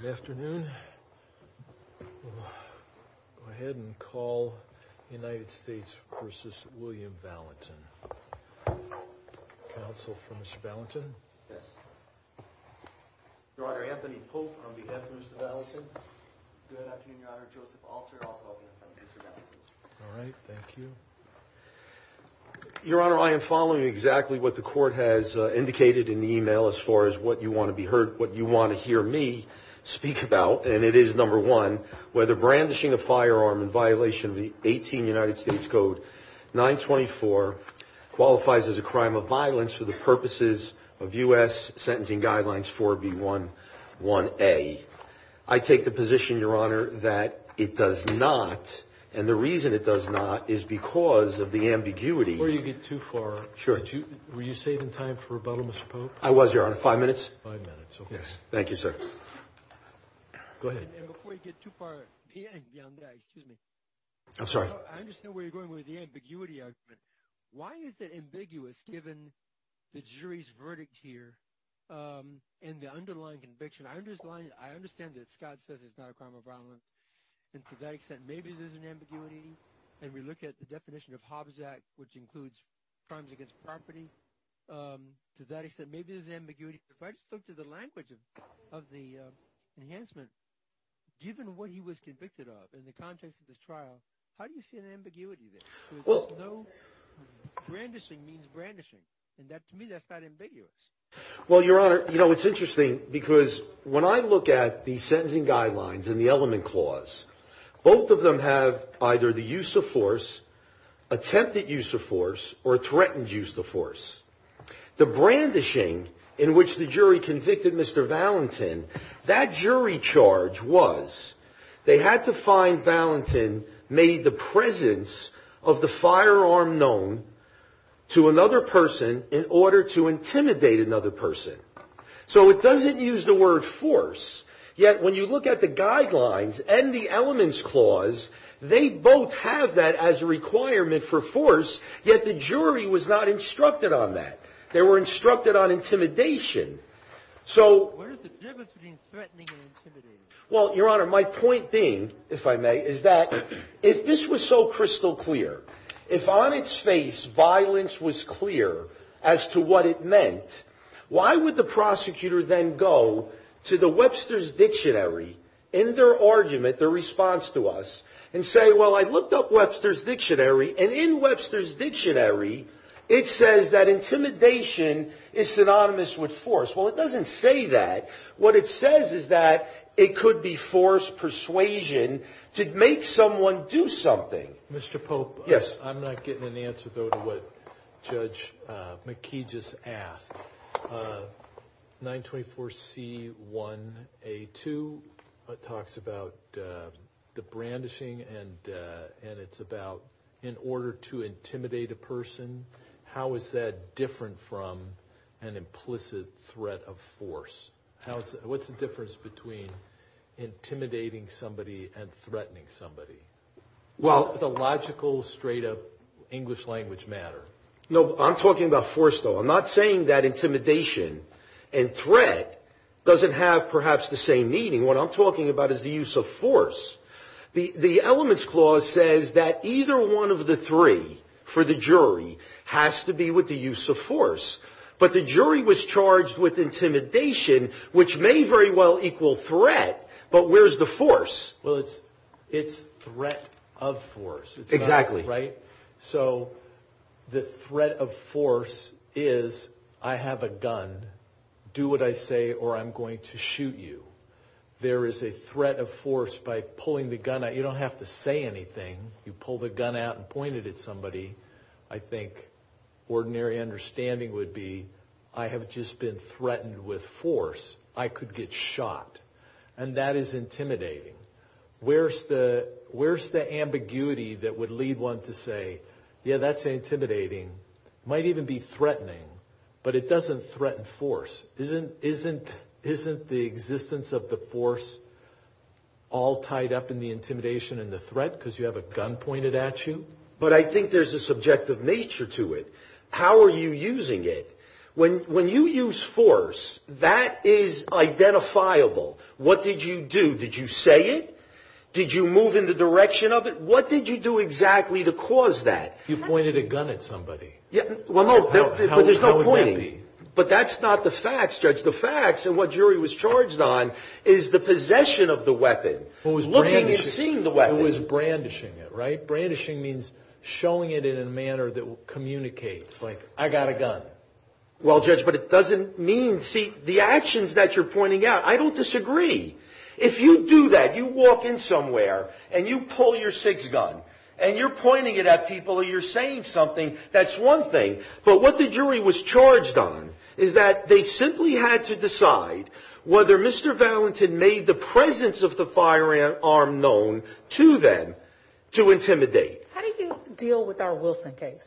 Good afternoon. Go ahead and call United States v. William Valentin. Counsel for Mr. Valentin? Yes. Your Honor, Anthony Pope on behalf of Mr. Valentin. Good afternoon, Your Honor. Joseph Alter, also on behalf of Mr. Valentin. All right. Thank you. Your Honor, I am following exactly what the court has indicated in the email as far as what you want to be heard, what you want to hear me speak about. And it is, number one, whether brandishing a firearm in violation of the 18 United States Code 924 qualifies as a crime of violence for the purposes of U.S. Sentencing Guidelines 4B11A. I take the position, Your Honor, that it does not. And the reason it does not is because of the ambiguity. Before you get too far, were you saving time for rebuttal, Mr. Pope? I was, Your Honor. Five minutes? Five minutes. Okay. Yes. Thank you, sir. Go ahead. And before you get too far, excuse me. I'm sorry. I understand where you're going with the ambiguity argument. Why is it ambiguous given the jury's verdict here and the underlying conviction? I understand that Scott says it's not a crime of violence, and to that extent, maybe there's an ambiguity. And we look at the definition of Hobbs Act, which includes crimes against property. To that extent, maybe there's an ambiguity. But if I just look to the language of the enhancement, given what he was convicted of in the context of this trial, how do you see an ambiguity there? Because no – brandishing means brandishing, and to me that's not ambiguous. Well, Your Honor, you know, it's interesting because when I look at the sentencing guidelines and the element clause, both of them have either the use of force, attempted use of force, or threatened use of force. The brandishing in which the jury convicted Mr. Valentin, that jury charge was they had to find Valentin made the presence of the firearm known to another person in order to intimidate another person. So it doesn't use the word force, yet when you look at the guidelines and the elements clause, they both have that as a requirement for force, yet the jury was not instructed on that. They were instructed on intimidation. What is the difference between threatening and intimidating? Well, Your Honor, my point being, if I may, is that if this was so crystal clear, if on its face violence was clear as to what it meant, why would the prosecutor then go to the Webster's Dictionary in their argument, their response to us, and say, well, I looked up Webster's Dictionary, and in Webster's Dictionary it says that intimidation is synonymous with force. Well, it doesn't say that. What it says is that it could be forced persuasion to make someone do something. Mr. Pope? Yes. I'm not getting an answer, though, to what Judge McKee just asked. 924C1A2 talks about the brandishing, and it's about in order to intimidate a person. How is that different from an implicit threat of force? What's the difference between intimidating somebody and threatening somebody? Well, the logical, straight-up English language matter. No, I'm talking about force, though. I'm not saying that intimidation and threat doesn't have perhaps the same meaning. What I'm talking about is the use of force. The Elements Clause says that either one of the three for the jury has to be with the use of force. But the jury was charged with intimidation, which may very well equal threat, but where's the force? Well, it's threat of force. Exactly. Right? So the threat of force is I have a gun. Do what I say or I'm going to shoot you. There is a threat of force by pulling the gun out. You don't have to say anything. You pull the gun out and point it at somebody. I think ordinary understanding would be I have just been threatened with force. I could get shot, and that is intimidating. Where's the ambiguity that would lead one to say, yeah, that's intimidating. It might even be threatening, but it doesn't threaten force. Isn't the existence of the force all tied up in the intimidation and the threat because you have a gun pointed at you? But I think there's a subjective nature to it. How are you using it? When you use force, that is identifiable. What did you do? Did you say it? Did you move in the direction of it? What did you do exactly to cause that? You pointed a gun at somebody. Well, no, but there's no pointing. How would that be? But that's not the facts, Judge. The facts and what jury was charged on is the possession of the weapon, looking and seeing the weapon. Who was brandishing it, right? Brandishing means showing it in a manner that communicates, like I got a gun. Well, Judge, but it doesn't mean, see, the actions that you're pointing out, I don't disagree. If you do that, you walk in somewhere and you pull your six-gun and you're pointing it at people or you're saying something, that's one thing. But what the jury was charged on is that they simply had to decide whether Mr. Valentin made the presence of the firearm known to them to intimidate. How do you deal with our Wilson case?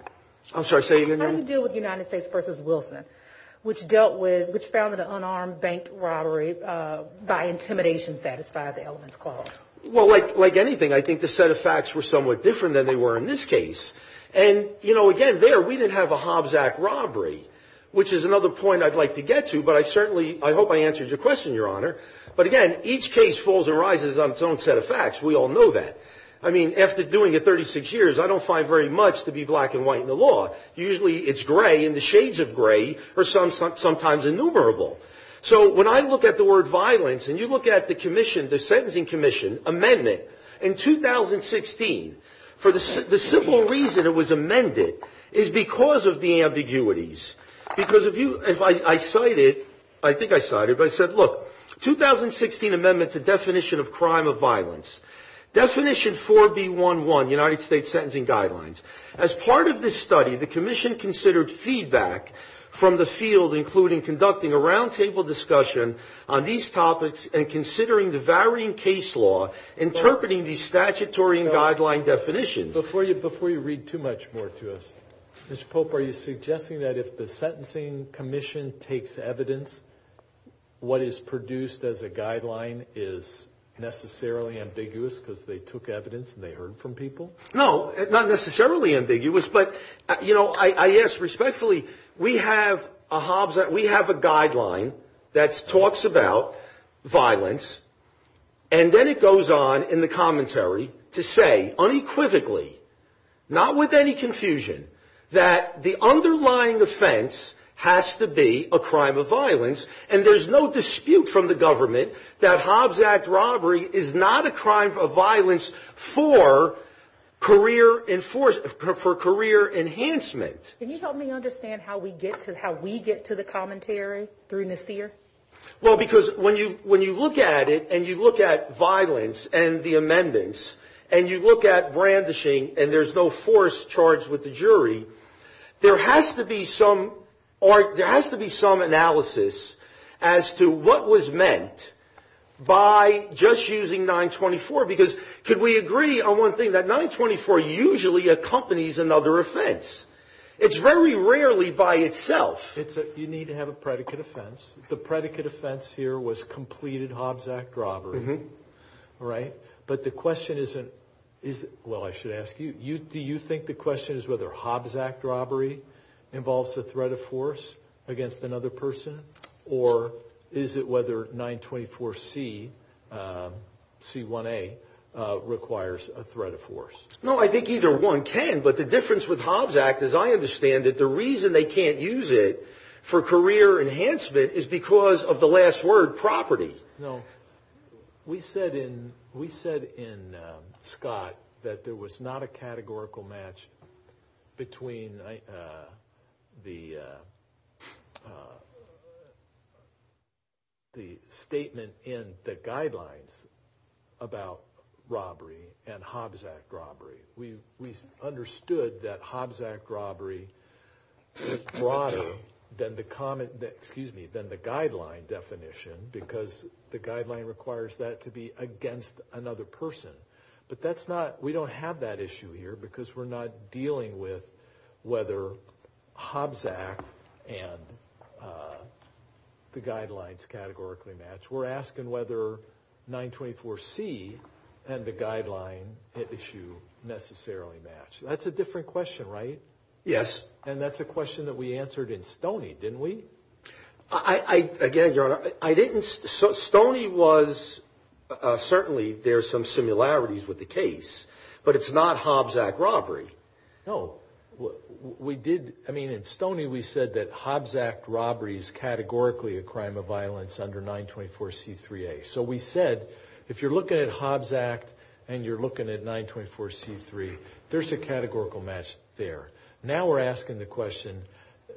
I'm sorry, say again? How do you deal with United States v. Wilson, which dealt with, which found an unarmed bank robbery by intimidation satisfied the elements clause? Well, like anything, I think the set of facts were somewhat different than they were in this case. And, you know, again, there we didn't have a Hobbs Act robbery, which is another point I'd like to get to, but I certainly, I hope I answered your question, Your Honor. But, again, each case falls and rises on its own set of facts. We all know that. I mean, after doing it 36 years, I don't find very much to be black and white in the law. Usually it's gray, and the shades of gray are sometimes innumerable. So when I look at the word violence, and you look at the commission, the sentencing commission amendment in 2016, for the simple reason it was amended, is because of the ambiguities. Because if you, if I cite it, I think I cite it, but I said, look, 2016 amendment to definition of crime of violence, definition 4B11, United States sentencing guidelines. As part of this study, the commission considered feedback from the field, including conducting a roundtable discussion on these topics and considering the varying case law interpreting these statutory and guideline definitions. Before you read too much more to us, Mr. Pope, are you suggesting that if the sentencing commission takes evidence, what is produced as a guideline is necessarily ambiguous because they took evidence and they heard from people? No, not necessarily ambiguous, but, you know, I ask respectfully, we have a Hobbs Act, we have a guideline that talks about violence, and then it goes on in the commentary to say unequivocally, not with any confusion, that the underlying offense has to be a crime of violence. And there's no dispute from the government that Hobbs Act robbery is not a crime of violence for career enforcement, for career enhancement. Can you help me understand how we get to, how we get to the commentary through Nasir? Well, because when you look at it and you look at violence and the amendments and you look at brandishing and there's no force charged with the jury, there has to be some analysis as to what was meant by just using 924. Because could we agree on one thing? That 924 usually accompanies another offense. It's very rarely by itself. You need to have a predicate offense. The predicate offense here was completed Hobbs Act robbery, right? But the question isn't, well, I should ask you, do you think the question is whether Hobbs Act robbery involves the threat of force against another person, or is it whether 924C, C1A, requires a threat of force? No, I think either one can, but the difference with Hobbs Act, as I understand it, the reason they can't use it for career enhancement is because of the last word, property. No, we said in, we said in Scott that there was not a categorical match between the statement in the guidelines about robbery and Hobbs Act robbery. We understood that Hobbs Act robbery is broader than the comment, excuse me, than the guideline definition because the guideline requires that to be against another person. But that's not, we don't have that issue here because we're not dealing with whether Hobbs Act and the guidelines categorically match. We're asking whether 924C and the guideline issue necessarily match. That's a different question, right? Yes. And that's a question that we answered in Stoney, didn't we? I, again, Your Honor, I didn't, Stoney was, certainly there's some similarities with the case, but it's not Hobbs Act robbery. No, we did, I mean, in Stoney we said that Hobbs Act robbery is categorically a crime of violence under 924C3A. So we said, if you're looking at Hobbs Act and you're looking at 924C3, there's a categorical match there. Now we're asking the question,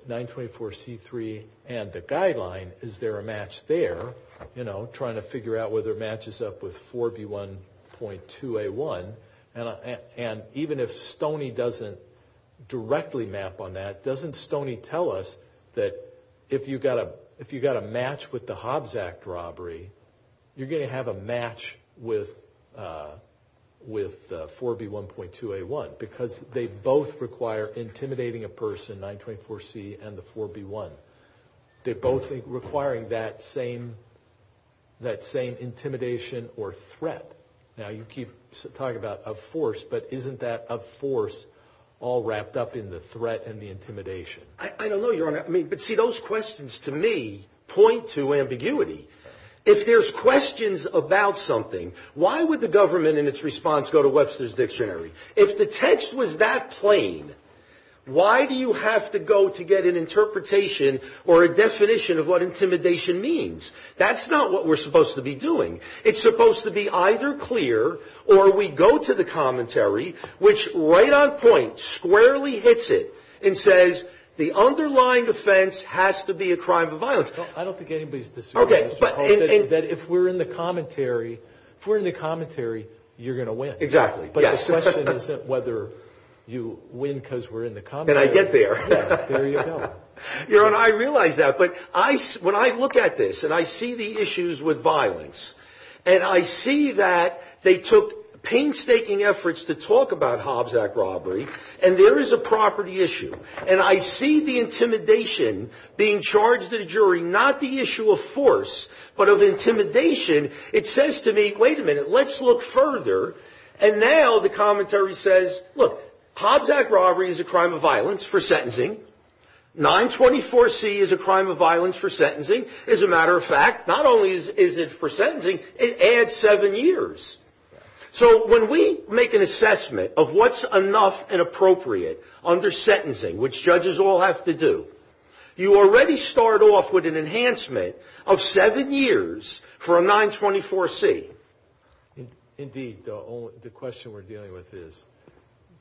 924C3 and the guideline, is there a match there, you know, trying to figure out whether it matches up with 4B1.2A1. And even if Stoney doesn't directly map on that, doesn't Stoney tell us that if you've got a match with the Hobbs Act robbery, you're going to have a match with 4B1.2A1. Because they both require intimidating a person, 924C and the 4B1. They're both requiring that same intimidation or threat. Now you keep talking about a force, but isn't that a force all wrapped up in the threat and the intimidation? I don't know, Your Honor, I mean, but see those questions to me point to ambiguity. If there's questions about something, why would the government in its response go to Webster's Dictionary? If the text was that plain, why do you have to go to get an interpretation or a definition of what intimidation means? That's not what we're supposed to be doing. It's supposed to be either clear or we go to the commentary, which right on point, squarely hits it and says the underlying offense has to be a crime of violence. I don't think anybody's disagreeing, Mr. Hoffman, that if we're in the commentary, if we're in the commentary, you're going to win. Exactly, yes. But the question isn't whether you win because we're in the commentary. And I get there. Yeah, there you go. Your Honor, I realize that. But when I look at this and I see the issues with violence and I see that they took painstaking efforts to talk about Hobbs Act robbery, and there is a property issue, and I see the intimidation being charged at a jury, not the issue of force, but of intimidation, it says to me, wait a minute, let's look further. And now the commentary says, look, Hobbs Act robbery is a crime of violence for sentencing. 924C is a crime of violence for sentencing. As a matter of fact, not only is it for sentencing, it adds seven years. So when we make an assessment of what's enough and appropriate under sentencing, which judges all have to do, you already start off with an enhancement of seven years for a 924C. Indeed, the question we're dealing with is,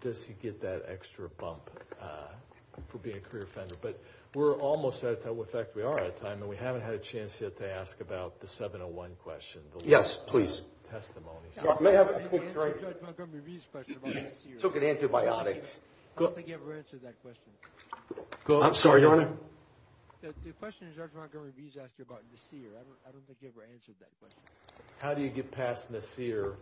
does he get that extra bump for being a career offender? But we're almost out of time. In fact, we are out of time, and we haven't had a chance yet to ask about the 701 question. Yes, please. Testimony. May I have a quick question? Judge Montgomery V's question about Nassir. Took an antibiotic. I don't think he ever answered that question. I'm sorry, Your Honor. The question is, Judge Montgomery V's asked you about Nassir. I don't think he ever answered that question. How do you get past Nassir,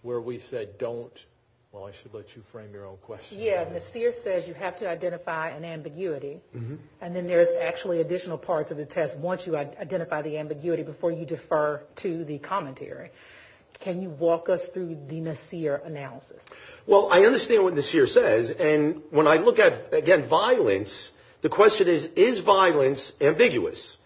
where we said don't? Well, I should let you frame your own question. Yeah, Nassir says you have to identify an ambiguity, and then there's actually additional parts of the test once you identify the ambiguity before you defer to the commentary. Can you walk us through the Nassir analysis? Well, I understand what Nassir says, and when I look at, again, violence, the question is, is violence ambiguous?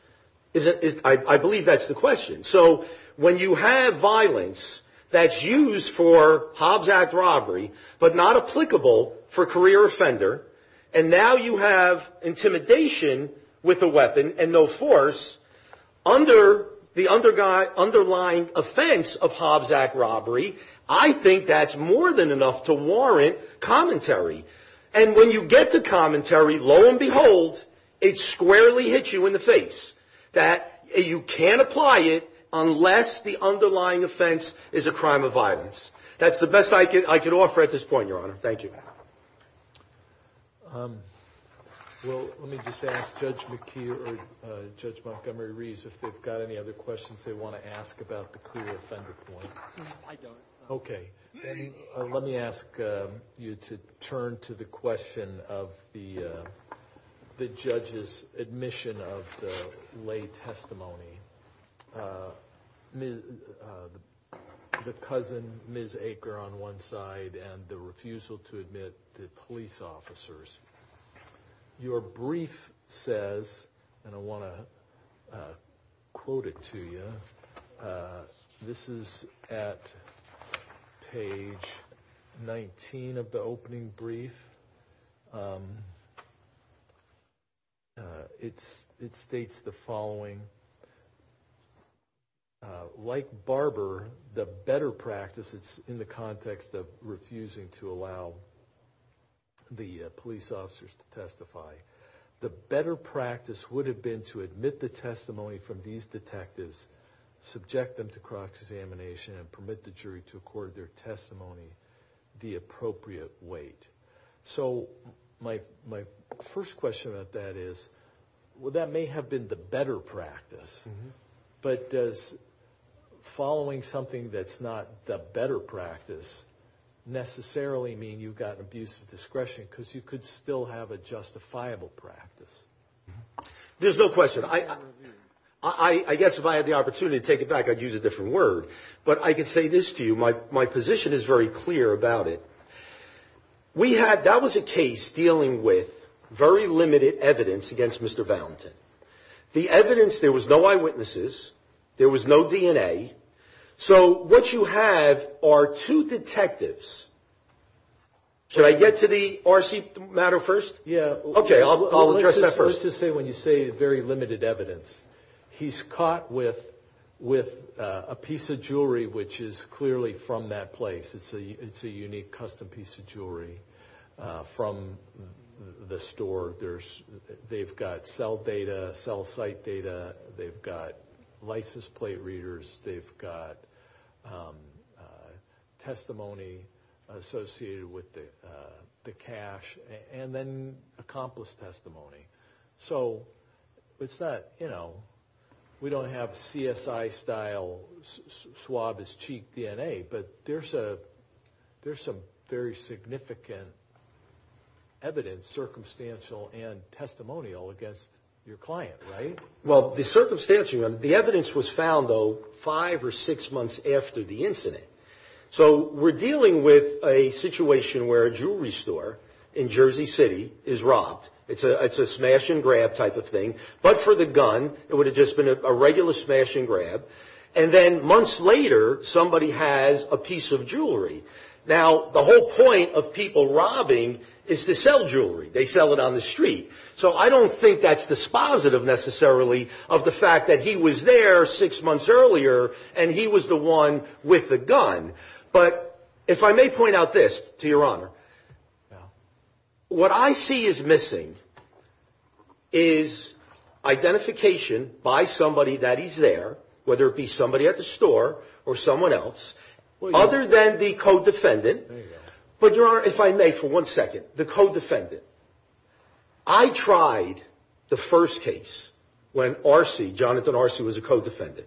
I believe that's the question. So when you have violence that's used for Hobbs Act robbery but not applicable for career offender, and now you have intimidation with a weapon and no force, under the underlying offense of Hobbs Act robbery, I think that's more than enough to warrant commentary. And when you get to commentary, lo and behold, it squarely hits you in the face that you can't apply it unless the underlying offense is a crime of violence. That's the best I can offer at this point, Your Honor. Thank you. Well, let me just ask Judge McKee or Judge Montgomery V's if they've got any other questions they want to ask about the career offender point. I don't. Okay. Let me ask you to turn to the question of the judge's admission of the lay testimony. The cousin, Ms. Aker, on one side, and the refusal to admit the police officers. Your brief says, and I want to quote it to you, this is at page 19 of the opening brief. It states the following. Like Barber, the better practice, it's in the context of refusing to allow the police officers to testify. The better practice would have been to admit the testimony from these detectives, subject them to cross-examination, and permit the jury to accord their testimony the appropriate weight. So my first question about that is, well, that may have been the better practice. But does following something that's not the better practice necessarily mean you've got abuse of discretion? Because you could still have a justifiable practice. There's no question. I guess if I had the opportunity to take it back, I'd use a different word. But I can say this to you. My position is very clear about it. We had, that was a case dealing with very limited evidence against Mr. Valentin. The evidence, there was no eyewitnesses. There was no DNA. So what you have are two detectives. Should I get to the RC matter first? Yeah. Okay, I'll address that first. Let's just say when you say very limited evidence, he's caught with a piece of jewelry which is clearly from that place. It's a unique custom piece of jewelry from the store. They've got cell data, cell site data. They've got license plate readers. They've got testimony associated with the cash. And then accomplice testimony. So it's not, you know, we don't have CSI style swab his cheek DNA. But there's some very significant evidence, circumstantial and testimonial against your client, right? Well, the circumstantial, the evidence was found, though, five or six months after the incident. So we're dealing with a situation where a jewelry store in Jersey City is robbed. It's a smash and grab type of thing. But for the gun, it would have just been a regular smash and grab. And then months later, somebody has a piece of jewelry. Now, the whole point of people robbing is to sell jewelry. They sell it on the street. So I don't think that's dispositive necessarily of the fact that he was there six months earlier and he was the one with the gun. But if I may point out this, to Your Honor, what I see is missing is identification by somebody that is there, whether it be somebody at the store or someone else, other than the co-defendant. But, Your Honor, if I may, for one second, the co-defendant. I tried the first case when RC, Jonathan RC, was a co-defendant.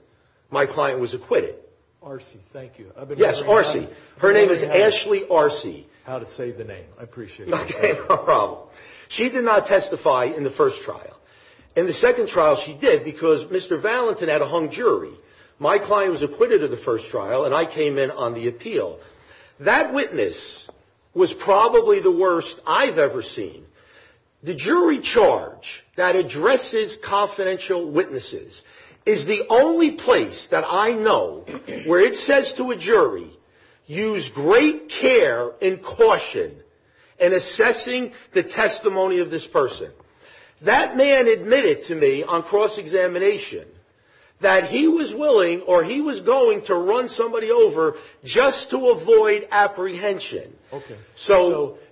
My client was acquitted. RC, thank you. Yes, RC. Her name is Ashley RC. How to save the name. I appreciate it. No problem. She did not testify in the first trial. In the second trial, she did because Mr. Valentin had a hung jury. My client was acquitted of the first trial, and I came in on the appeal. That witness was probably the worst I've ever seen. The jury charge that addresses confidential witnesses is the only place that I know where it says to a jury, use great care and caution in assessing the testimony of this person. That man admitted to me on cross-examination that he was willing or he was going to run somebody over just to avoid apprehension. Okay.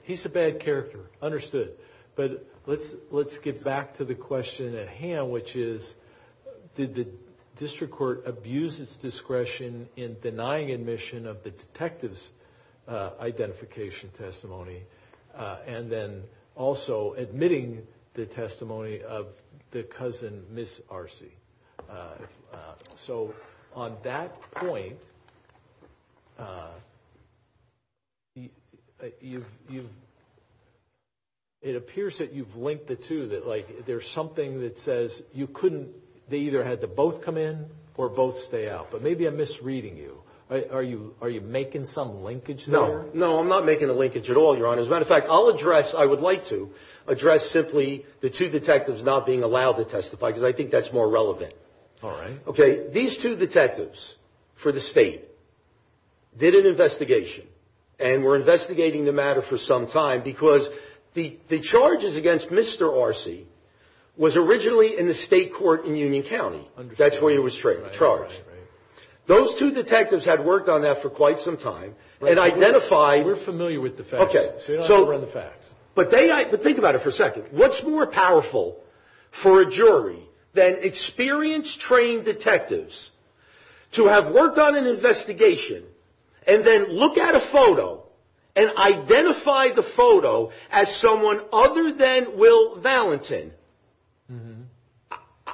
He's a bad character. Understood. But let's get back to the question at hand, which is, did the district court abuse its discretion in denying admission of the detective's identification testimony, and then also admitting the testimony of the cousin, Ms. RC? So on that point, it appears that you've linked the two, that there's something that says you couldn't – they either had to both come in or both stay out. But maybe I'm misreading you. Are you making some linkage there? No. No, I'm not making a linkage at all, Your Honor. As a matter of fact, I'll address – I would like to address simply the two detectives not being allowed to testify because I think that's more relevant. All right. Okay. These two detectives for the state did an investigation and were investigating the matter for some time because the charges against Mr. RC was originally in the state court in Union County. Understood. That's where he was charged. Right, right, right. Those two detectives had worked on that for quite some time and identified – But think about it for a second. What's more powerful for a jury than experienced, trained detectives to have worked on an investigation and then look at a photo and identify the photo as someone other than Will Valentin?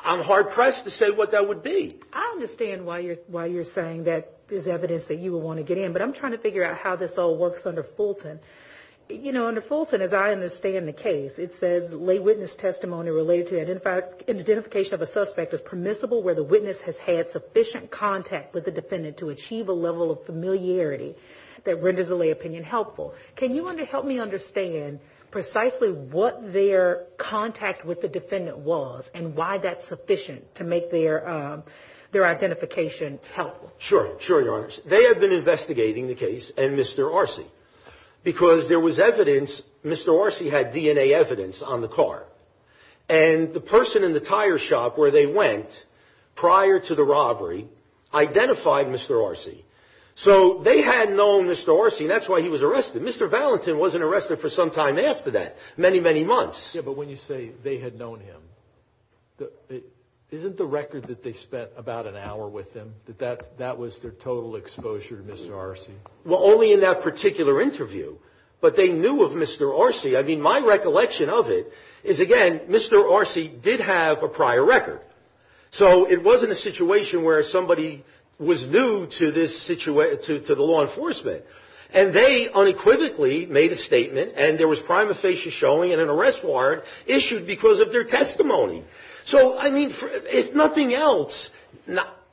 I'm hard-pressed to say what that would be. I understand why you're saying that there's evidence that you would want to get in, but I'm trying to figure out how this all works under Fulton. You know, under Fulton, as I understand the case, it says lay witness testimony related to the identification of a suspect is permissible where the witness has had sufficient contact with the defendant to achieve a level of familiarity that renders a lay opinion helpful. Can you help me understand precisely what their contact with the defendant was and why that's sufficient to make their identification helpful? Sure, Your Honors. They had been investigating the case and Mr. Arce because there was evidence – Mr. Arce had DNA evidence on the car. And the person in the tire shop where they went prior to the robbery identified Mr. Arce. So they had known Mr. Arce, and that's why he was arrested. Mr. Valentin wasn't arrested for some time after that, many, many months. Yeah, but when you say they had known him, isn't the record that they spent about an hour with him, that that was their total exposure to Mr. Arce? Well, only in that particular interview. But they knew of Mr. Arce. I mean, my recollection of it is, again, Mr. Arce did have a prior record. So it wasn't a situation where somebody was new to the law enforcement. And they unequivocally made a statement and there was prima facie showing and an arrest warrant issued because of their testimony. So, I mean, if nothing else,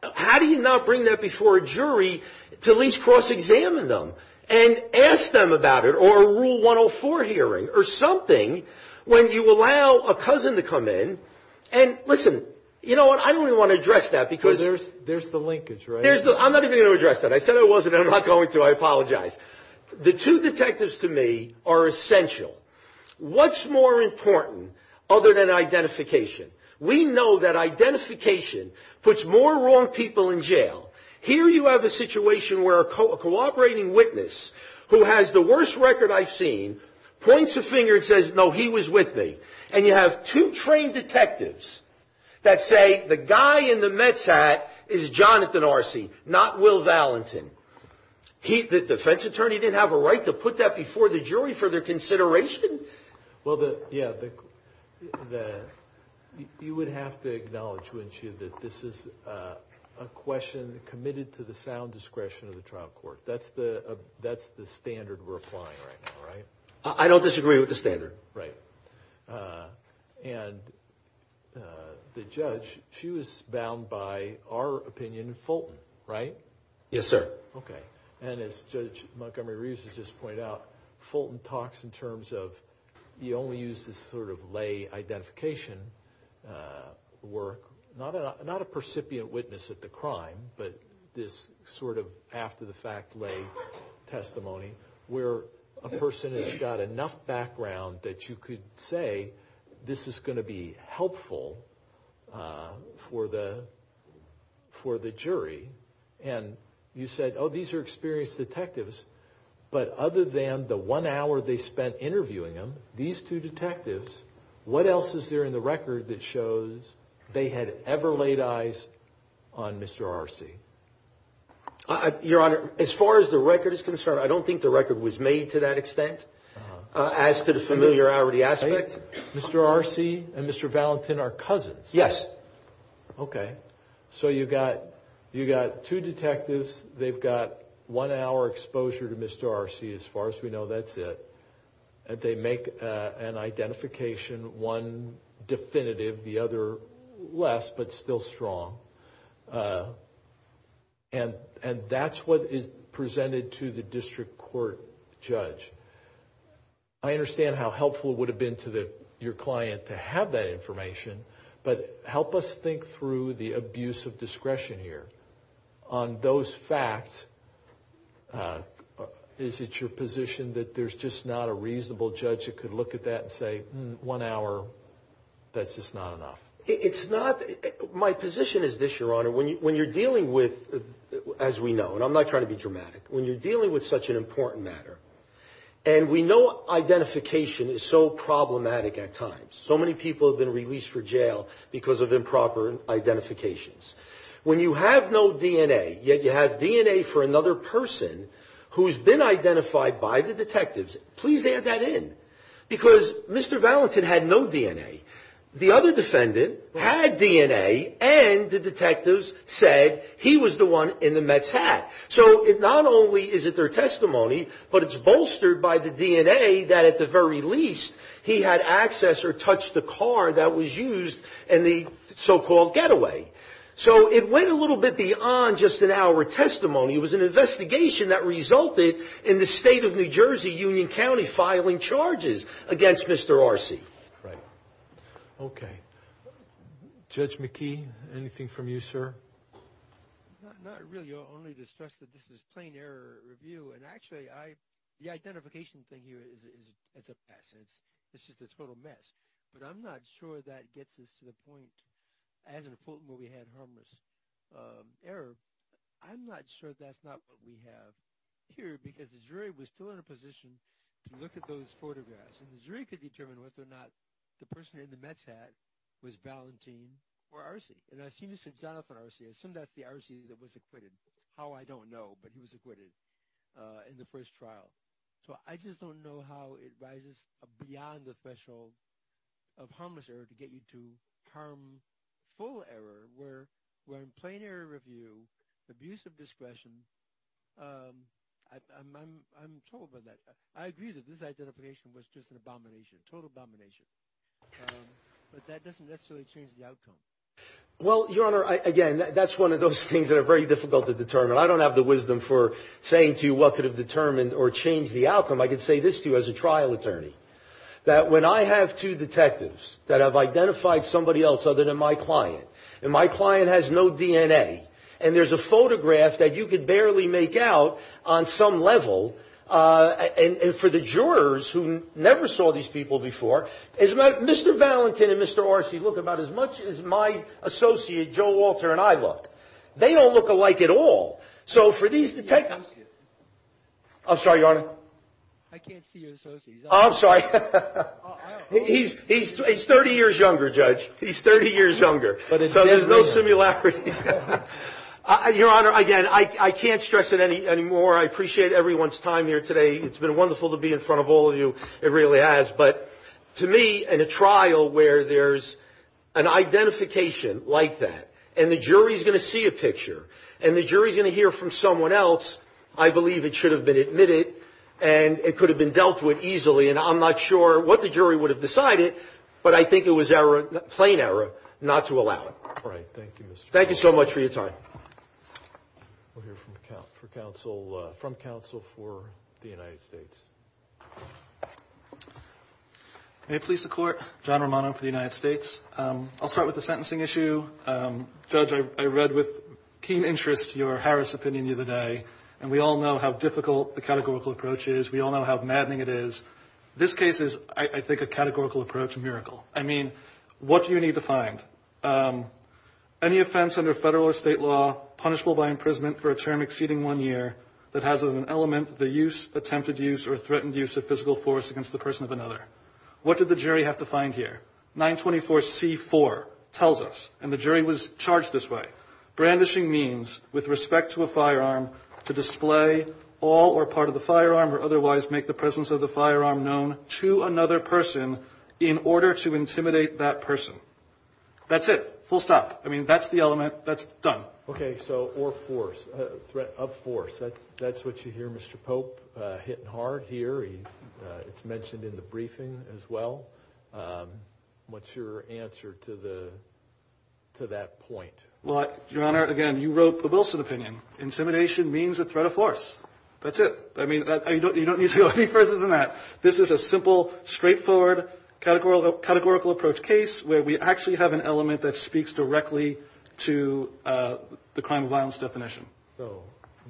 how do you not bring that before a jury to at least cross-examine them and ask them about it or a Rule 104 hearing or something when you allow a cousin to come in? And, listen, you know what? I don't even want to address that because – There's the linkage, right? I'm not even going to address that. I said I wasn't and I'm not going to. I apologize. The two detectives to me are essential. What's more important other than identification? We know that identification puts more wrong people in jail. Here you have a situation where a cooperating witness who has the worst record I've seen points a finger and says, no, he was with me. And you have two trained detectives that say the guy in the Mets hat is Jonathan Arce, not Will Valentin. The defense attorney didn't have a right to put that before the jury for their consideration? Well, yeah, you would have to acknowledge, wouldn't you, that this is a question committed to the sound discretion of the trial court. That's the standard we're applying right now, right? I don't disagree with the standard. Right. And the judge, she was bound by our opinion, Fulton, right? Yes, sir. Okay. And as Judge Montgomery Reeves has just pointed out, Fulton talks in terms of you only use this sort of lay identification work. Not a percipient witness at the crime, but this sort of after-the-fact lay testimony where a person has got enough background that you could say this is going to be helpful for the jury. And you said, oh, these are experienced detectives. But other than the one hour they spent interviewing him, these two detectives, what else is there in the record that shows they had ever laid eyes on Mr. Arce? Your Honor, as far as the record is concerned, I don't think the record was made to that extent as to the familiarity aspect. Mr. Arce and Mr. Valentin are cousins. Yes. Okay. So you've got two detectives. They've got one hour exposure to Mr. Arce, as far as we know. That's it. They make an identification, one definitive, the other less, but still strong. And that's what is presented to the district court judge. I understand how helpful it would have been to your client to have that information, but help us think through the abuse of discretion here. On those facts, is it your position that there's just not a reasonable judge that could look at that and say, one hour, that's just not enough? It's not. Your Honor, when you're dealing with, as we know, and I'm not trying to be dramatic, when you're dealing with such an important matter, and we know identification is so problematic at times. So many people have been released for jail because of improper identifications. When you have no DNA, yet you have DNA for another person who's been identified by the detectives, please add that in. Because Mr. Valentin had no DNA. The other defendant had DNA, and the detectives said he was the one in the Mets hat. So not only is it their testimony, but it's bolstered by the DNA that, at the very least, he had access or touched the car that was used in the so-called getaway. So it went a little bit beyond just an hour testimony. It was an investigation that resulted in the state of New Jersey, Union County, filing charges against Mr. Arce. Right. Okay. Judge McKee, anything from you, sir? Not really. You only discussed that this is plain error review. And actually, the identification thing here is a pass. It's just a total mess. But I'm not sure that gets us to the point, as in the full movie, had harmless error. I'm not sure that's not what we have here, because the jury was still in a position to look at those photographs. And the jury could determine whether or not the person in the Mets hat was Valentin or Arce. And I've seen this example for Arce. I assume that's the Arce that was acquitted. How, I don't know. But he was acquitted in the first trial. So I just don't know how it rises beyond the threshold of harmless error to get you to harmful error, where in plain error review, abuse of discretion, I'm told by that. I agree that this identification was just an abomination, total abomination. But that doesn't necessarily change the outcome. Well, Your Honor, again, that's one of those things that are very difficult to determine. I don't have the wisdom for saying to you what could have determined or changed the outcome. I can say this to you as a trial attorney, that when I have two detectives that have identified somebody else other than my client, and my client has no DNA, and there's a photograph that you could barely make out on some level, and for the jurors who never saw these people before, Mr. Valentin and Mr. Arce look about as much as my associate, Joe Walter, and I look. They don't look alike at all. So for these detectives. I'm sorry, Your Honor. I can't see your associate. I'm sorry. He's 30 years younger, Judge. He's 30 years younger. So there's no similarity. Your Honor, again, I can't stress it any more. I appreciate everyone's time here today. It's been wonderful to be in front of all of you. It really has. But to me, in a trial where there's an identification like that, and the jury's going to see a picture, and the jury's going to hear from someone else, I believe it should have been admitted, and it could have been dealt with easily, and I'm not sure what the jury would have decided, but I think it was error, plain error, not to allow it. All right. Thank you, Mr. Thank you so much for your time. We'll hear from counsel for the United States. May it please the Court. John Romano for the United States. I'll start with the sentencing issue. Judge, I read with keen interest your Harris opinion the other day, and we all know how difficult the categorical approach is. We all know how maddening it is. This case is, I think, a categorical approach miracle. I mean, what do you need to find? Any offense under federal or state law punishable by imprisonment for a term exceeding one year that has as an element the use, attempted use, or threatened use of physical force against the person of another. What did the jury have to find here? 924C4 tells us, and the jury was charged this way, brandishing means with respect to a firearm to display all or part of the firearm or otherwise make the presence of the firearm known to another person in order to intimidate that person. That's it. Full stop. I mean, that's the element. That's done. Okay. So or force, threat of force, that's what you hear Mr. Pope hitting hard here. It's mentioned in the briefing as well. What's your answer to that point? Well, Your Honor, again, you wrote the Wilson opinion. Intimidation means a threat of force. That's it. I mean, you don't need to go any further than that. This is a simple, straightforward, categorical approach case where we actually have an element that speaks directly to the crime of violence definition. So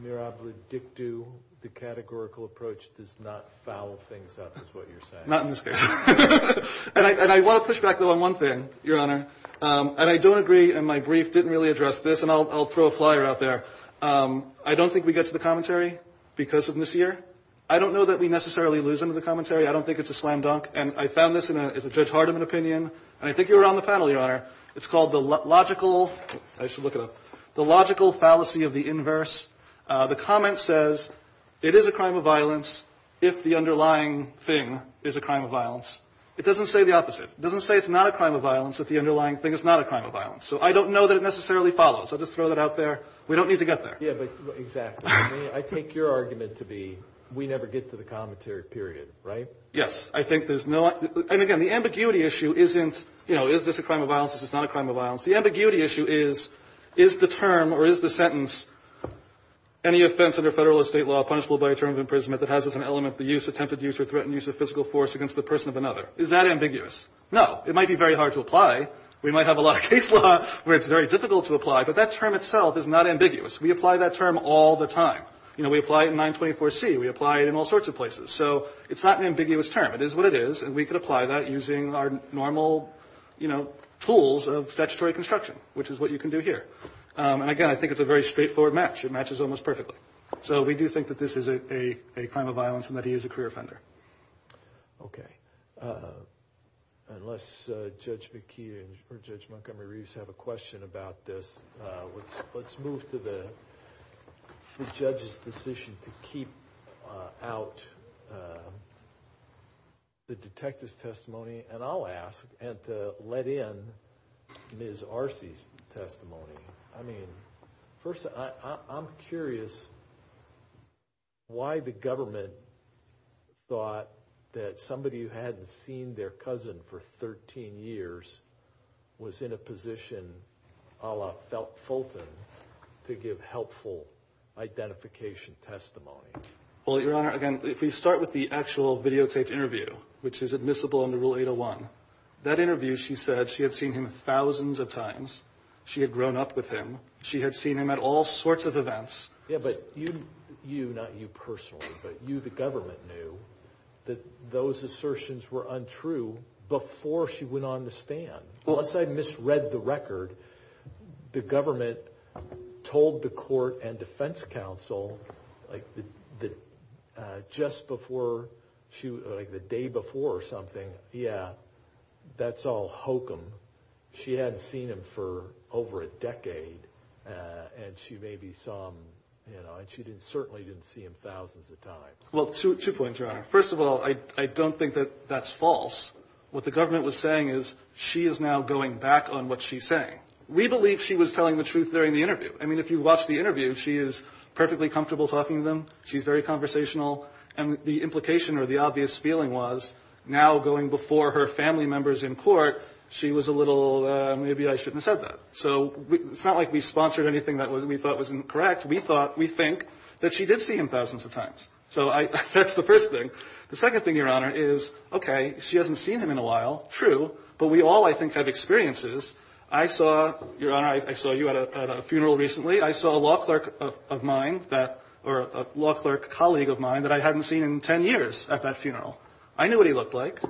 mirabilit dictu, the categorical approach does not foul things up is what you're saying. Not in this case. And I want to push back, though, on one thing, Your Honor. And I don't agree, and my brief didn't really address this, and I'll throw a flyer out there. I don't think we get to the commentary because of this year. I don't know that we necessarily lose into the commentary. I don't think it's a slam dunk. And I found this as a Judge Hardiman opinion. And I think you were on the panel, Your Honor. It's called the logical fallacy of the inverse. The comment says it is a crime of violence if the underlying thing is a crime of violence. It doesn't say the opposite. It doesn't say it's not a crime of violence if the underlying thing is not a crime of violence. So I don't know that it necessarily follows. I'll just throw that out there. We don't need to get there. Yeah, but exactly. I mean, I take your argument to be we never get to the commentary, period, right? Yes. I think there's no other. And, again, the ambiguity issue isn't, you know, is this a crime of violence? Is this not a crime of violence? The ambiguity issue is, is the term or is the sentence, any offense under Federal or State law punishable by a term of imprisonment that has as an element the use, attempted use, or threatened use of physical force against the person of another? Is that ambiguous? No. It might be very hard to apply. We might have a lot of case law where it's very difficult to apply. But that term itself is not ambiguous. We apply that term all the time. You know, we apply it in 924C. We apply it in all sorts of places. So it's not an ambiguous term. It is what it is. And we can apply that using our normal, you know, tools of statutory construction, which is what you can do here. And, again, I think it's a very straightforward match. It matches almost perfectly. So we do think that this is a crime of violence and that he is a career offender. Okay. Unless Judge McKee or Judge Montgomery-Reeves have a question about this, let's move to the judge's decision to keep out the detective's testimony. And I'll ask to let in Ms. Arce's testimony. I mean, first, I'm curious why the government thought that somebody who hadn't seen their cousin for 13 years was in a position, a la Fulton, to give helpful identification testimony. Well, Your Honor, again, if we start with the actual videotaped interview, which is admissible under Rule 801, that interview, she said she had seen him thousands of times. She had grown up with him. She had seen him at all sorts of events. Yeah, but you, not you personally, but you, the government, knew that those assertions were untrue before she went on the stand. Unless I misread the record, the government told the court and defense counsel, like just before, like the day before or something, yeah, that's all hokum. She hadn't seen him for over a decade, and she maybe saw him, you know, and she certainly didn't see him thousands of times. Well, two points, Your Honor. First of all, I don't think that that's false. What the government was saying is she is now going back on what she's saying. We believe she was telling the truth during the interview. I mean, if you watch the interview, she is perfectly comfortable talking to them. She's very conversational. And the implication or the obvious feeling was now going before her family members in court, she was a little, maybe I shouldn't have said that. So it's not like we sponsored anything that we thought was incorrect. We thought, we think, that she did see him thousands of times. So that's the first thing. The second thing, Your Honor, is, okay, she hasn't seen him in a while, true, but we all, I think, have experiences. I saw, Your Honor, I saw you at a funeral recently. I saw a law clerk of mine that or a law clerk colleague of mine that I hadn't seen in 10 years at that funeral. I knew what he looked like.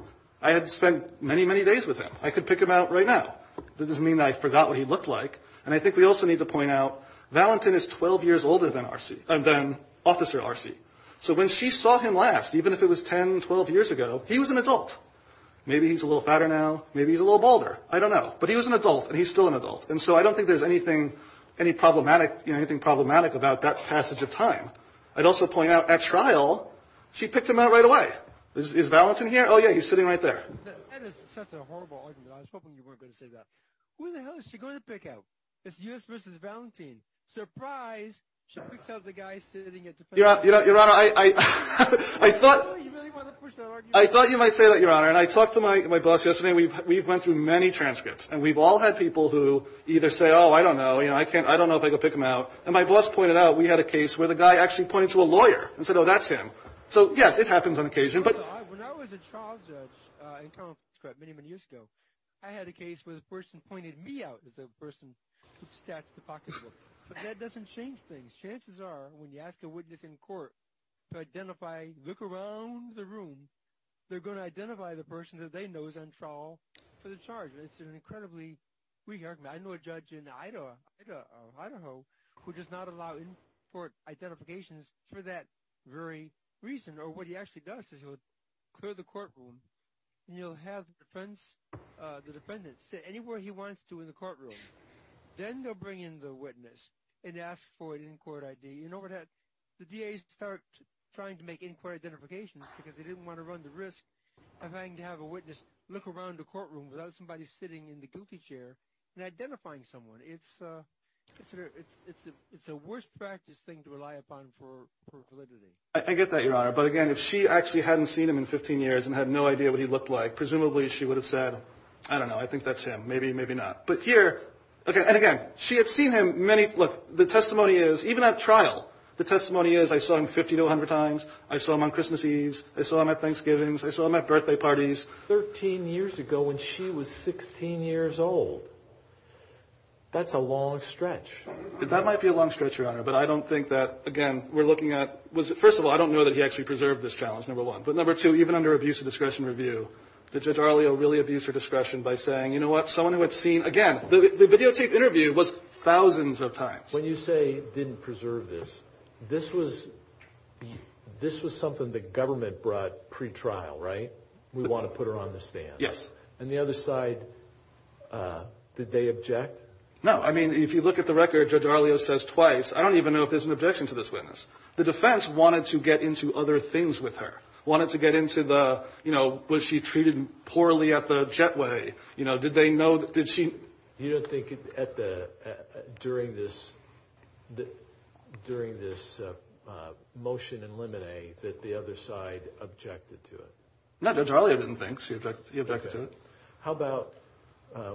I had spent many, many days with him. I could pick him out right now. It doesn't mean that I forgot what he looked like. And I think we also need to point out, Valentin is 12 years older than R.C., than Officer R.C. So when she saw him last, even if it was 10, 12 years ago, he was an adult. Maybe he's a little fatter now. Maybe he's a little balder. I don't know. But he was an adult, and he's still an adult. And so I don't think there's anything problematic about that passage of time. I'd also point out, at trial, she picked him out right away. Is Valentin here? Oh, yeah, he's sitting right there. That is such a horrible argument. I was hoping you weren't going to say that. Who the hell is she going to pick out? It's U.S. v. Valentin. Surprise, she picks out the guy sitting at the front. Your Honor, I thought you might say that, Your Honor. And I talked to my boss yesterday. We've went through many transcripts. And we've all had people who either say, oh, I don't know, I don't know if I can pick him out. And my boss pointed out we had a case where the guy actually pointed to a lawyer and said, oh, that's him. So, yes, it happens on occasion. When I was a trial judge in Congress many, many years ago, I had a case where the person pointed me out as the person who stashed the pocketbook. But that doesn't change things. Chances are when you ask a witness in court to identify, look around the room, they're going to identify the person that they know is on trial for the charge. It's an incredibly weak argument. I know a judge in Idaho who does not allow in-court identifications for that very reason. Or what he actually does is he will clear the courtroom and he'll have the defense, the defendant, sit anywhere he wants to in the courtroom. Then they'll bring in the witness and ask for an in-court ID. You know what happens? The DAs start trying to make in-court identifications because they didn't want to run the risk of having to have a witness look around the courtroom without somebody sitting in the goofy chair and identifying someone. It's a worse practice thing to rely upon for validity. I get that, Your Honor. But, again, if she actually hadn't seen him in 15 years and had no idea what he looked like, presumably she would have said, I don't know, I think that's him, maybe, maybe not. But here, and again, she had seen him many, look, the testimony is, even at trial, the testimony is I saw him 50 to 100 times, I saw him on Christmas Eve, I saw him at Thanksgiving's, I saw him at birthday parties. 13 years ago when she was 16 years old. That might be a long stretch, Your Honor. But I don't think that, again, we're looking at, first of all, I don't know that he actually preserved this challenge, number one. But, number two, even under abuse of discretion review, did Judge Arlio really abuse her discretion by saying, you know what, someone who had seen, again, the videotaped interview was thousands of times. When you say didn't preserve this, this was something the government brought pretrial, right? We want to put her on the stand. Yes. And the other side, did they object? No. I mean, if you look at the record, Judge Arlio says twice. I don't even know if there's an objection to this witness. The defense wanted to get into other things with her. Wanted to get into the, you know, was she treated poorly at the Jetway? You know, did they know, did she? You don't think at the, during this, during this motion in limine that the other side objected to it? No, Judge Arlio didn't think she objected to it. How about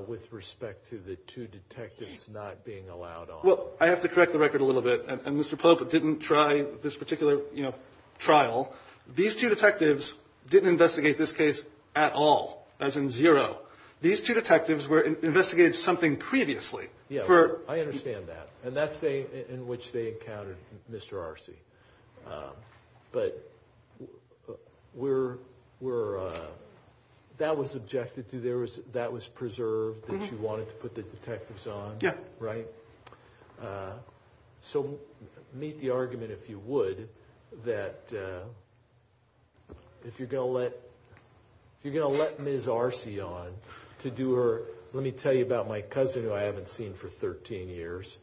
with respect to the two detectives not being allowed on? Well, I have to correct the record a little bit. And Mr. Pope didn't try this particular, you know, trial. These two detectives didn't investigate this case at all, as in zero. These two detectives were investigating something previously. Yeah, I understand that. And that's in which they encountered Mr. Arce. But we're, that was objected to. That was preserved that you wanted to put the detectives on. Yeah. Right? So meet the argument, if you would, that if you're going to let, if you're going to let Ms. Arce on to do her, let me tell you about my cousin who I haven't seen for 13 years.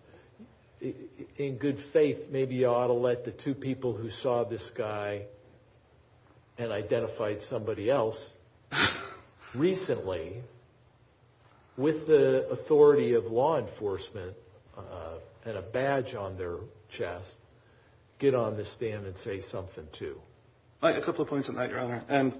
In good faith, maybe you ought to let the two people who saw this guy and identified somebody else recently, with the authority of law enforcement and a badge on their chest, get on this stand and say something too. A couple of points on that, Your Honor. And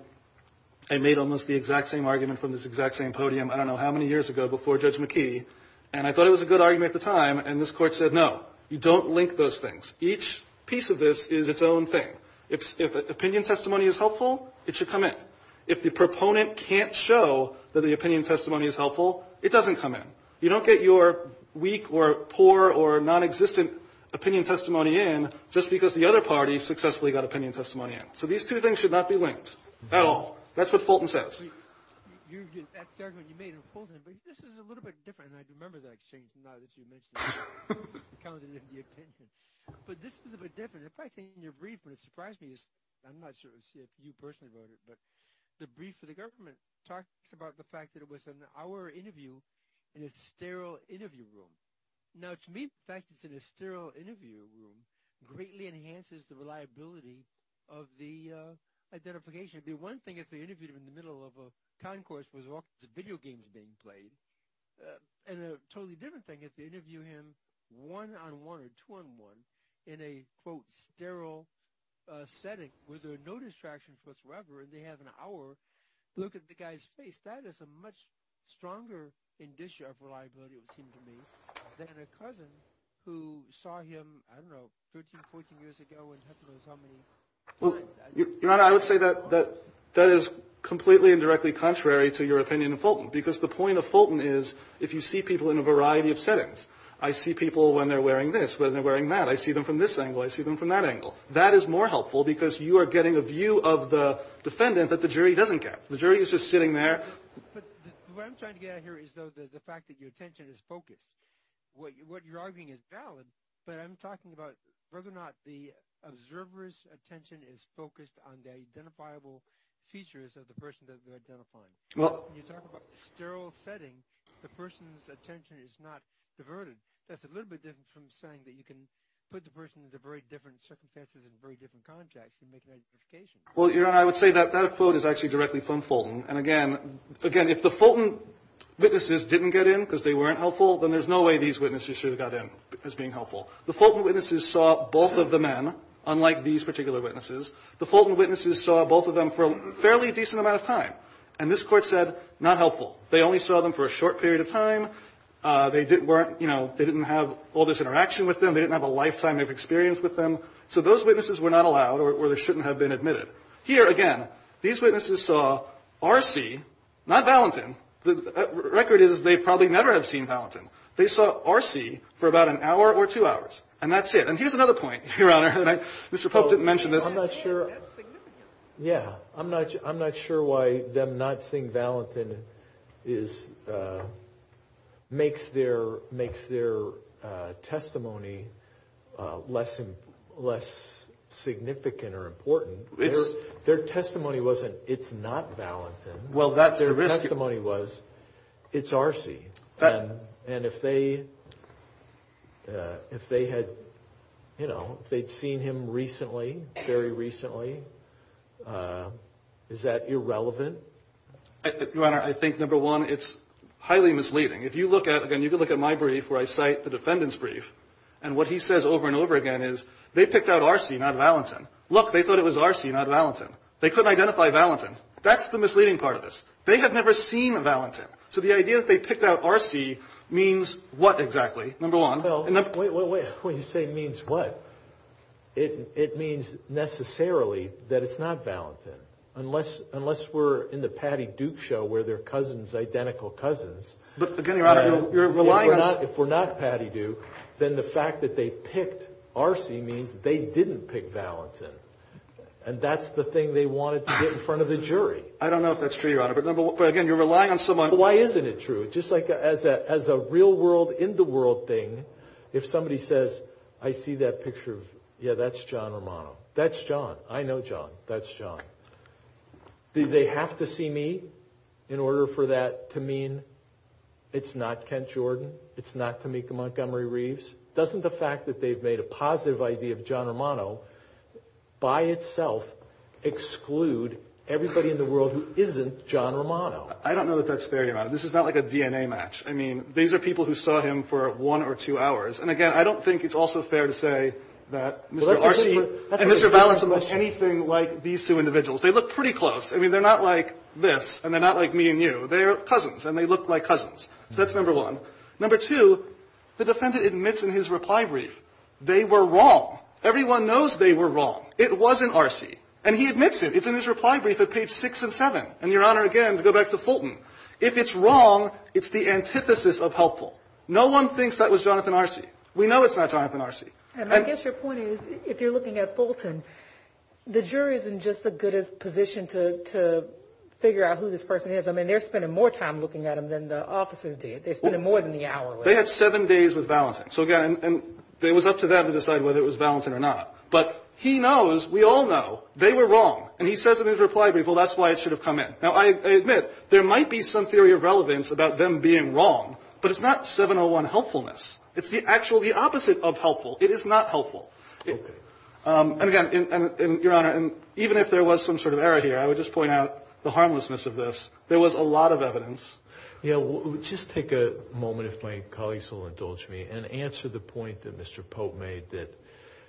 I made almost the exact same argument from this exact same podium, I don't know how many years ago, before Judge McKee. And I thought it was a good argument at the time. And this Court said, no, you don't link those things. Each piece of this is its own thing. If opinion testimony is helpful, it should come in. If the proponent can't show that the opinion testimony is helpful, it doesn't come in. You don't get your weak or poor or nonexistent opinion testimony in just because the other party successfully got opinion testimony in. So these two things should not be linked at all. That's what Fulton says. That argument you made on Fulton, but this is a little bit different. And I remember that exchange now that you mentioned it. I counted it in the opinion. But this is a bit different. The fact that in your brief, what surprised me is – I'm not sure if you personally wrote it, but the brief for the government talks about the fact that it was an hour interview in a sterile interview room. Now, to me, the fact that it's in a sterile interview room greatly enhances the reliability of the identification. The one thing, if they interviewed him in the middle of a concourse where there's all sorts of video games being played, and a totally different thing, if they interview him one-on-one or two-on-one in a, quote, sterile setting where there are no distractions whatsoever and they have an hour to look at the guy's face, that is a much stronger indicia of reliability, it would seem to me, than a cousin who saw him, I don't know, 13, 14 years ago and doesn't know how many times. Your Honor, I would say that that is completely and directly contrary to your opinion of Fulton, because the point of Fulton is if you see people in a variety of settings, I see people when they're wearing this, when they're wearing that. I see them from this angle. I see them from that angle. That is more helpful because you are getting a view of the defendant that the jury doesn't get. The jury is just sitting there. But what I'm trying to get at here is the fact that your attention is focused. What you're arguing is valid, but I'm talking about whether or not the observer's attention is focused on the identifiable features of the person that they're identifying. When you talk about sterile setting, the person's attention is not diverted. That's a little bit different from saying that you can put the person in a very different circumstances in a very different context and make an identification. Well, Your Honor, I would say that that quote is actually directly from Fulton. And, again, if the Fulton witnesses didn't get in because they weren't helpful, then there's no way these witnesses should have got in as being helpful. The Fulton witnesses saw both of the men, unlike these particular witnesses. The Fulton witnesses saw both of them for a fairly decent amount of time. And this Court said, not helpful. They only saw them for a short period of time. They weren't, you know, they didn't have all this interaction with them. They didn't have a lifetime of experience with them. So those witnesses were not allowed or they shouldn't have been admitted. Here, again, these witnesses saw R.C., not Valentin. The record is they probably never have seen Valentin. They saw R.C. for about an hour or two hours. And that's it. And here's another point, Your Honor. Mr. Pope didn't mention this. I'm not sure. Yeah. I'm not sure why them not seeing Valentin makes their testimony less significant or important. Their testimony wasn't it's not Valentin. Well, that's the risk. Their testimony was it's R.C. And if they had, you know, if they'd seen him recently, very recently, is that irrelevant? Your Honor, I think, number one, it's highly misleading. If you look at, again, you can look at my brief where I cite the defendant's brief. And what he says over and over again is they picked out R.C., not Valentin. Look, they thought it was R.C., not Valentin. They couldn't identify Valentin. That's the misleading part of this. They have never seen Valentin. So the idea that they picked out R.C. means what exactly, number one? Well, wait, wait, wait. When you say means what, it means necessarily that it's not Valentin. Unless we're in the Patty Duke show where they're cousins, identical cousins. But, again, Your Honor, you're relying on. If we're not Patty Duke, then the fact that they picked R.C. means they didn't pick Valentin. And that's the thing they wanted to get in front of the jury. I don't know if that's true, Your Honor. But, again, you're relying on someone. Well, why isn't it true? Just like as a real-world, in-the-world thing, if somebody says, I see that picture of, yeah, that's John Romano. That's John. I know John. That's John. Do they have to see me in order for that to mean it's not Kent Jordan, it's not Tamika Montgomery Reeves? Doesn't the fact that they've made a positive idea of John Romano by itself exclude everybody in the world who isn't John Romano? I don't know that that's fair, Your Honor. This is not like a DNA match. I mean, these are people who saw him for one or two hours. And, again, I don't think it's also fair to say that Mr. R.C. and Mr. Valentin look anything like these two individuals. They look pretty close. I mean, they're not like this, and they're not like me and you. They are cousins, and they look like cousins. So that's number one. Number two, the defendant admits in his reply brief they were wrong. Everyone knows they were wrong. It wasn't R.C. And he admits it. It's in his reply brief at page six and seven. And, Your Honor, again, to go back to Fulton, if it's wrong, it's the antithesis of helpful. No one thinks that was Jonathan R.C. We know it's not Jonathan R.C. And I guess your point is, if you're looking at Fulton, the jury is in just as good a position to figure out who this person is. I mean, they're spending more time looking at him than the officers did. They're spending more than the hour with him. They had seven days with Valentin. So, again, it was up to them to decide whether it was Valentin or not. But he knows, we all know, they were wrong. And he says in his reply brief, well, that's why it should have come in. Now, I admit, there might be some theory of relevance about them being wrong, but it's not 701 helpfulness. It's the actual opposite of helpful. It is not helpful. Okay. And, again, Your Honor, even if there was some sort of error here, I would just point out the harmlessness of this. There was a lot of evidence. Yeah. Just take a moment, if my colleagues will indulge me, and answer the point that Mr. Pope made that,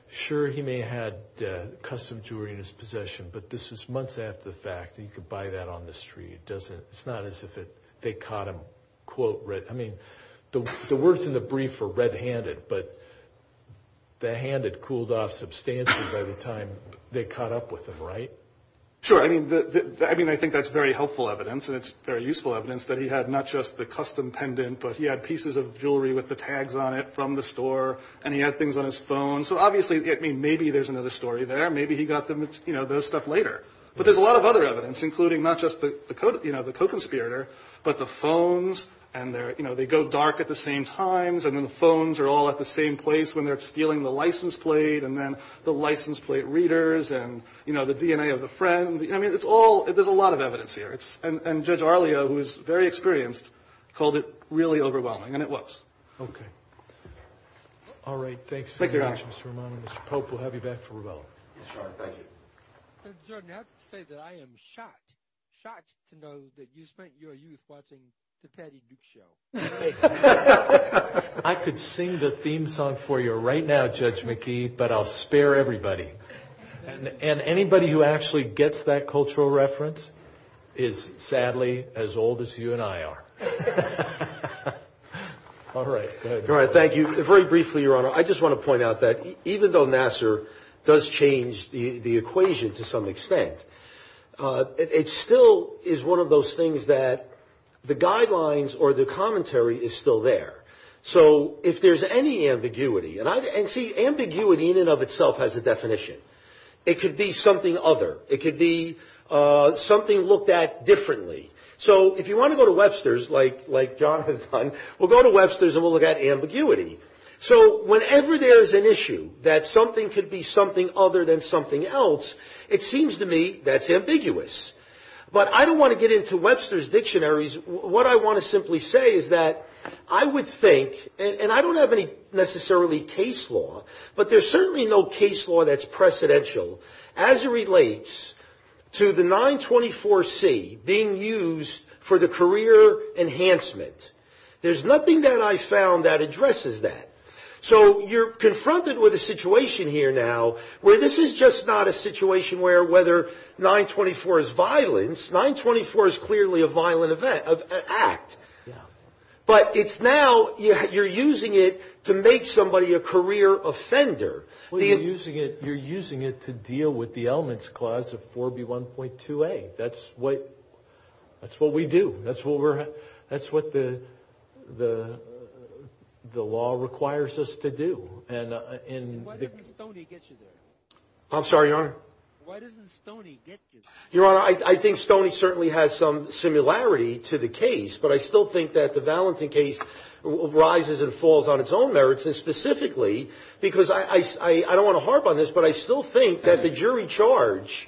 sure, he may have had custom jewelry in his possession, but this was months after the fact. He could buy that on the street. It's not as if they caught him, quote, I mean, the words in the brief are red-handed, but the hand had cooled off substantially by the time they caught up with him, right? Sure. I mean, I think that's very helpful evidence, and it's very useful evidence that he had not just the custom pendant, but he had pieces of jewelry with the tags on it from the store, and he had things on his phone. So, obviously, I mean, maybe there's another story there. Maybe he got those stuff later. But there's a lot of other evidence, including not just the co-conspirator, but the phones, and they go dark at the same times, and then the phones are all at the same place when they're stealing the license plate, and then the license plate readers, and, you know, the DNA of the friend. I mean, it's all – there's a lot of evidence here. And Judge Arlia, who is very experienced, called it really overwhelming, and it was. Okay. All right. Thanks very much, Mr. Romano. Mr. Pope, we'll have you back for rebuttal. Yes, Your Honor. Thank you. Judge Jordan, I have to say that I am shocked, shocked to know that you spent your youth watching the Patty Duke show. I could sing the theme song for you right now, Judge McKee, but I'll spare everybody. And anybody who actually gets that cultural reference is sadly as old as you and I are. All right. Go ahead. All right. Thank you. Very briefly, Your Honor, I just want to point out that even though Nassar does change the equation to some extent, it still is one of those things that the guidelines or the commentary is still there. So if there's any ambiguity – and, see, ambiguity in and of itself has a definition. It could be something other. It could be something looked at differently. So if you want to go to Webster's, like John has done, we'll go to Webster's and we'll look at ambiguity. So whenever there's an issue that something could be something other than something else, it seems to me that's ambiguous. But I don't want to get into Webster's dictionaries. What I want to simply say is that I would think – and I don't have any necessarily case law, but there's certainly no case law that's precedential as it relates to the 924C being used for the career enhancement. There's nothing that I've found that addresses that. So you're confronted with a situation here now where this is just not a situation where whether 924 is violence. 924 is clearly a violent act. But it's now – you're using it to make somebody a career offender. Well, you're using it to deal with the elements clause of 4B1.2a. That's what we do. That's what we're – that's what the law requires us to do. And – Why doesn't Stoney get you there? I'm sorry, Your Honor? Why doesn't Stoney get you there? Your Honor, I think Stoney certainly has some similarity to the case, but I still think that the Valentin case rises and falls on its own merits, and specifically because – I don't want to harp on this, but I still think that the jury charge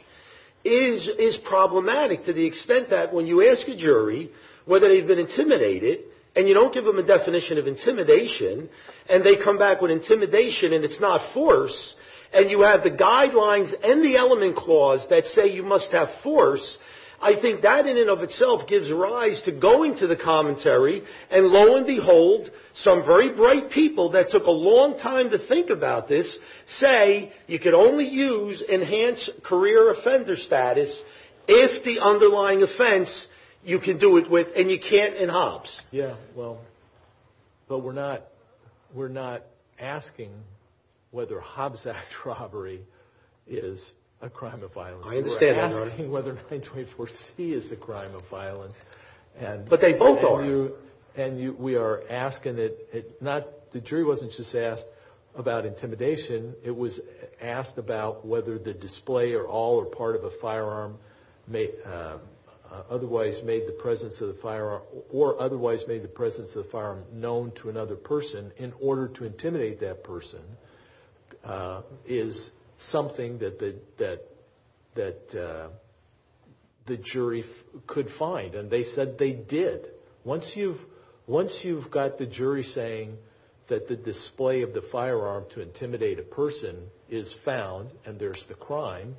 is problematic to the extent that when you ask a jury whether they've been intimidated and you don't give them a definition of intimidation and they come back with intimidation and it's not force and you have the guidelines and the element clause that say you must have force, I think that in and of itself gives rise to going to the commentary and lo and behold some very bright people that took a long time to think about this say you can only use enhanced career offender status if the underlying offense you can do it with and you can't in Hobbs. Yeah, well, but we're not – we're not asking whether Hobbs Act robbery is a crime of violence. I understand, Your Honor. We're asking whether 924C is a crime of violence. But they both are. And we are asking it not – the jury wasn't just asked about intimidation. It was asked about whether the display or all or part of a firearm may – otherwise made the presence of the firearm or otherwise made the presence of the firearm known to another person in order to intimidate that person is something that the jury could find, and they said they did. Once you've – once you've got the jury saying that the display of the firearm to intimidate a person is found and there's the crime,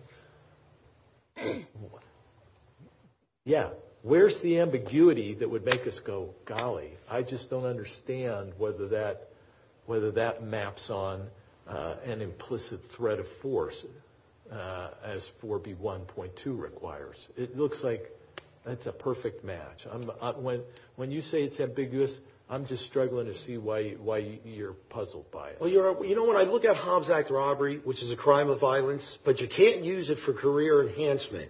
yeah, where's the ambiguity that would make us go, golly, I just don't understand whether that – whether that maps on an implicit threat of force as 4B1.2 requires. It looks like it's a perfect match. When you say it's ambiguous, I'm just struggling to see why you're puzzled by it. Well, Your Honor, you know, when I look at Hobbs Act robbery, which is a crime of violence, but you can't use it for career enhancement,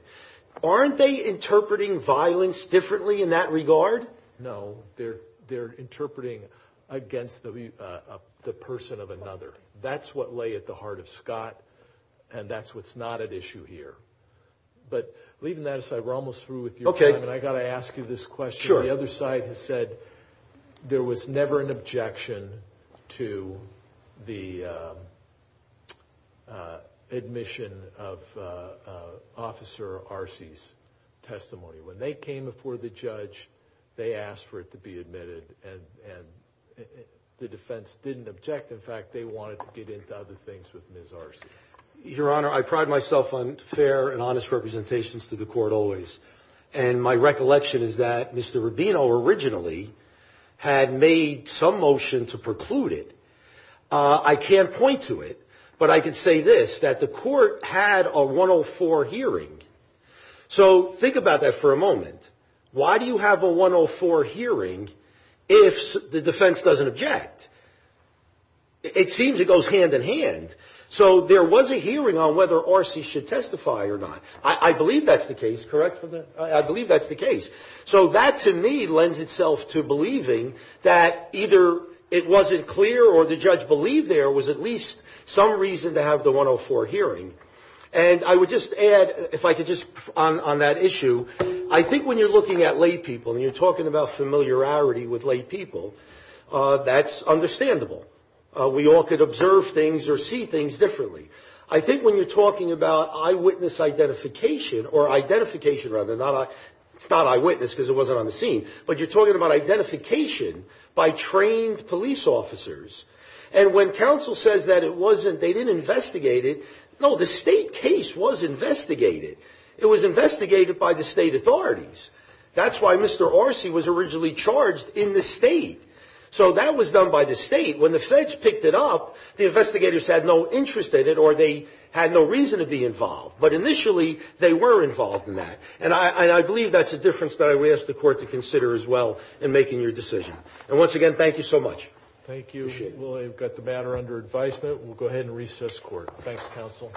aren't they interpreting violence differently in that regard? No. They're interpreting against the person of another. That's what lay at the heart of Scott, and that's what's not at issue here. But leaving that aside, we're almost through with your time, and I've got to ask you this question. The other side has said there was never an objection to the admission of Officer Arcey's testimony. When they came before the judge, they asked for it to be admitted, and the defense didn't object. In fact, they wanted to get into other things with Ms. Arcey. Your Honor, I pride myself on fair and honest representations to the court always, and my recollection is that Mr. Rubino originally had made some motion to preclude it. I can't point to it, but I can say this, that the court had a 104 hearing. So think about that for a moment. Why do you have a 104 hearing if the defense doesn't object? It seems it goes hand in hand. So there was a hearing on whether Arcey should testify or not. I believe that's the case, correct? I believe that's the case. So that, to me, lends itself to believing that either it wasn't clear or the judge believed there was at least some reason to have the 104 hearing. And I would just add, if I could just on that issue, I think when you're looking at lay people and you're talking about familiarity with lay people, that's understandable. We all could observe things or see things differently. I think when you're talking about eyewitness identification, or identification rather, it's not eyewitness because it wasn't on the scene, but you're talking about identification by trained police officers. And when counsel says that it wasn't, they didn't investigate it. No, the state case was investigated. It was investigated by the state authorities. That's why Mr. Arcey was originally charged in the state. So that was done by the state. When the feds picked it up, the investigators had no interest in it or they had no reason to be involved. But initially, they were involved in that. And I believe that's a difference that I would ask the court to consider as well in making your decision. And once again, thank you so much. Thank you. We've got the matter under advisement. We'll go ahead and recess court. Thanks, counsel.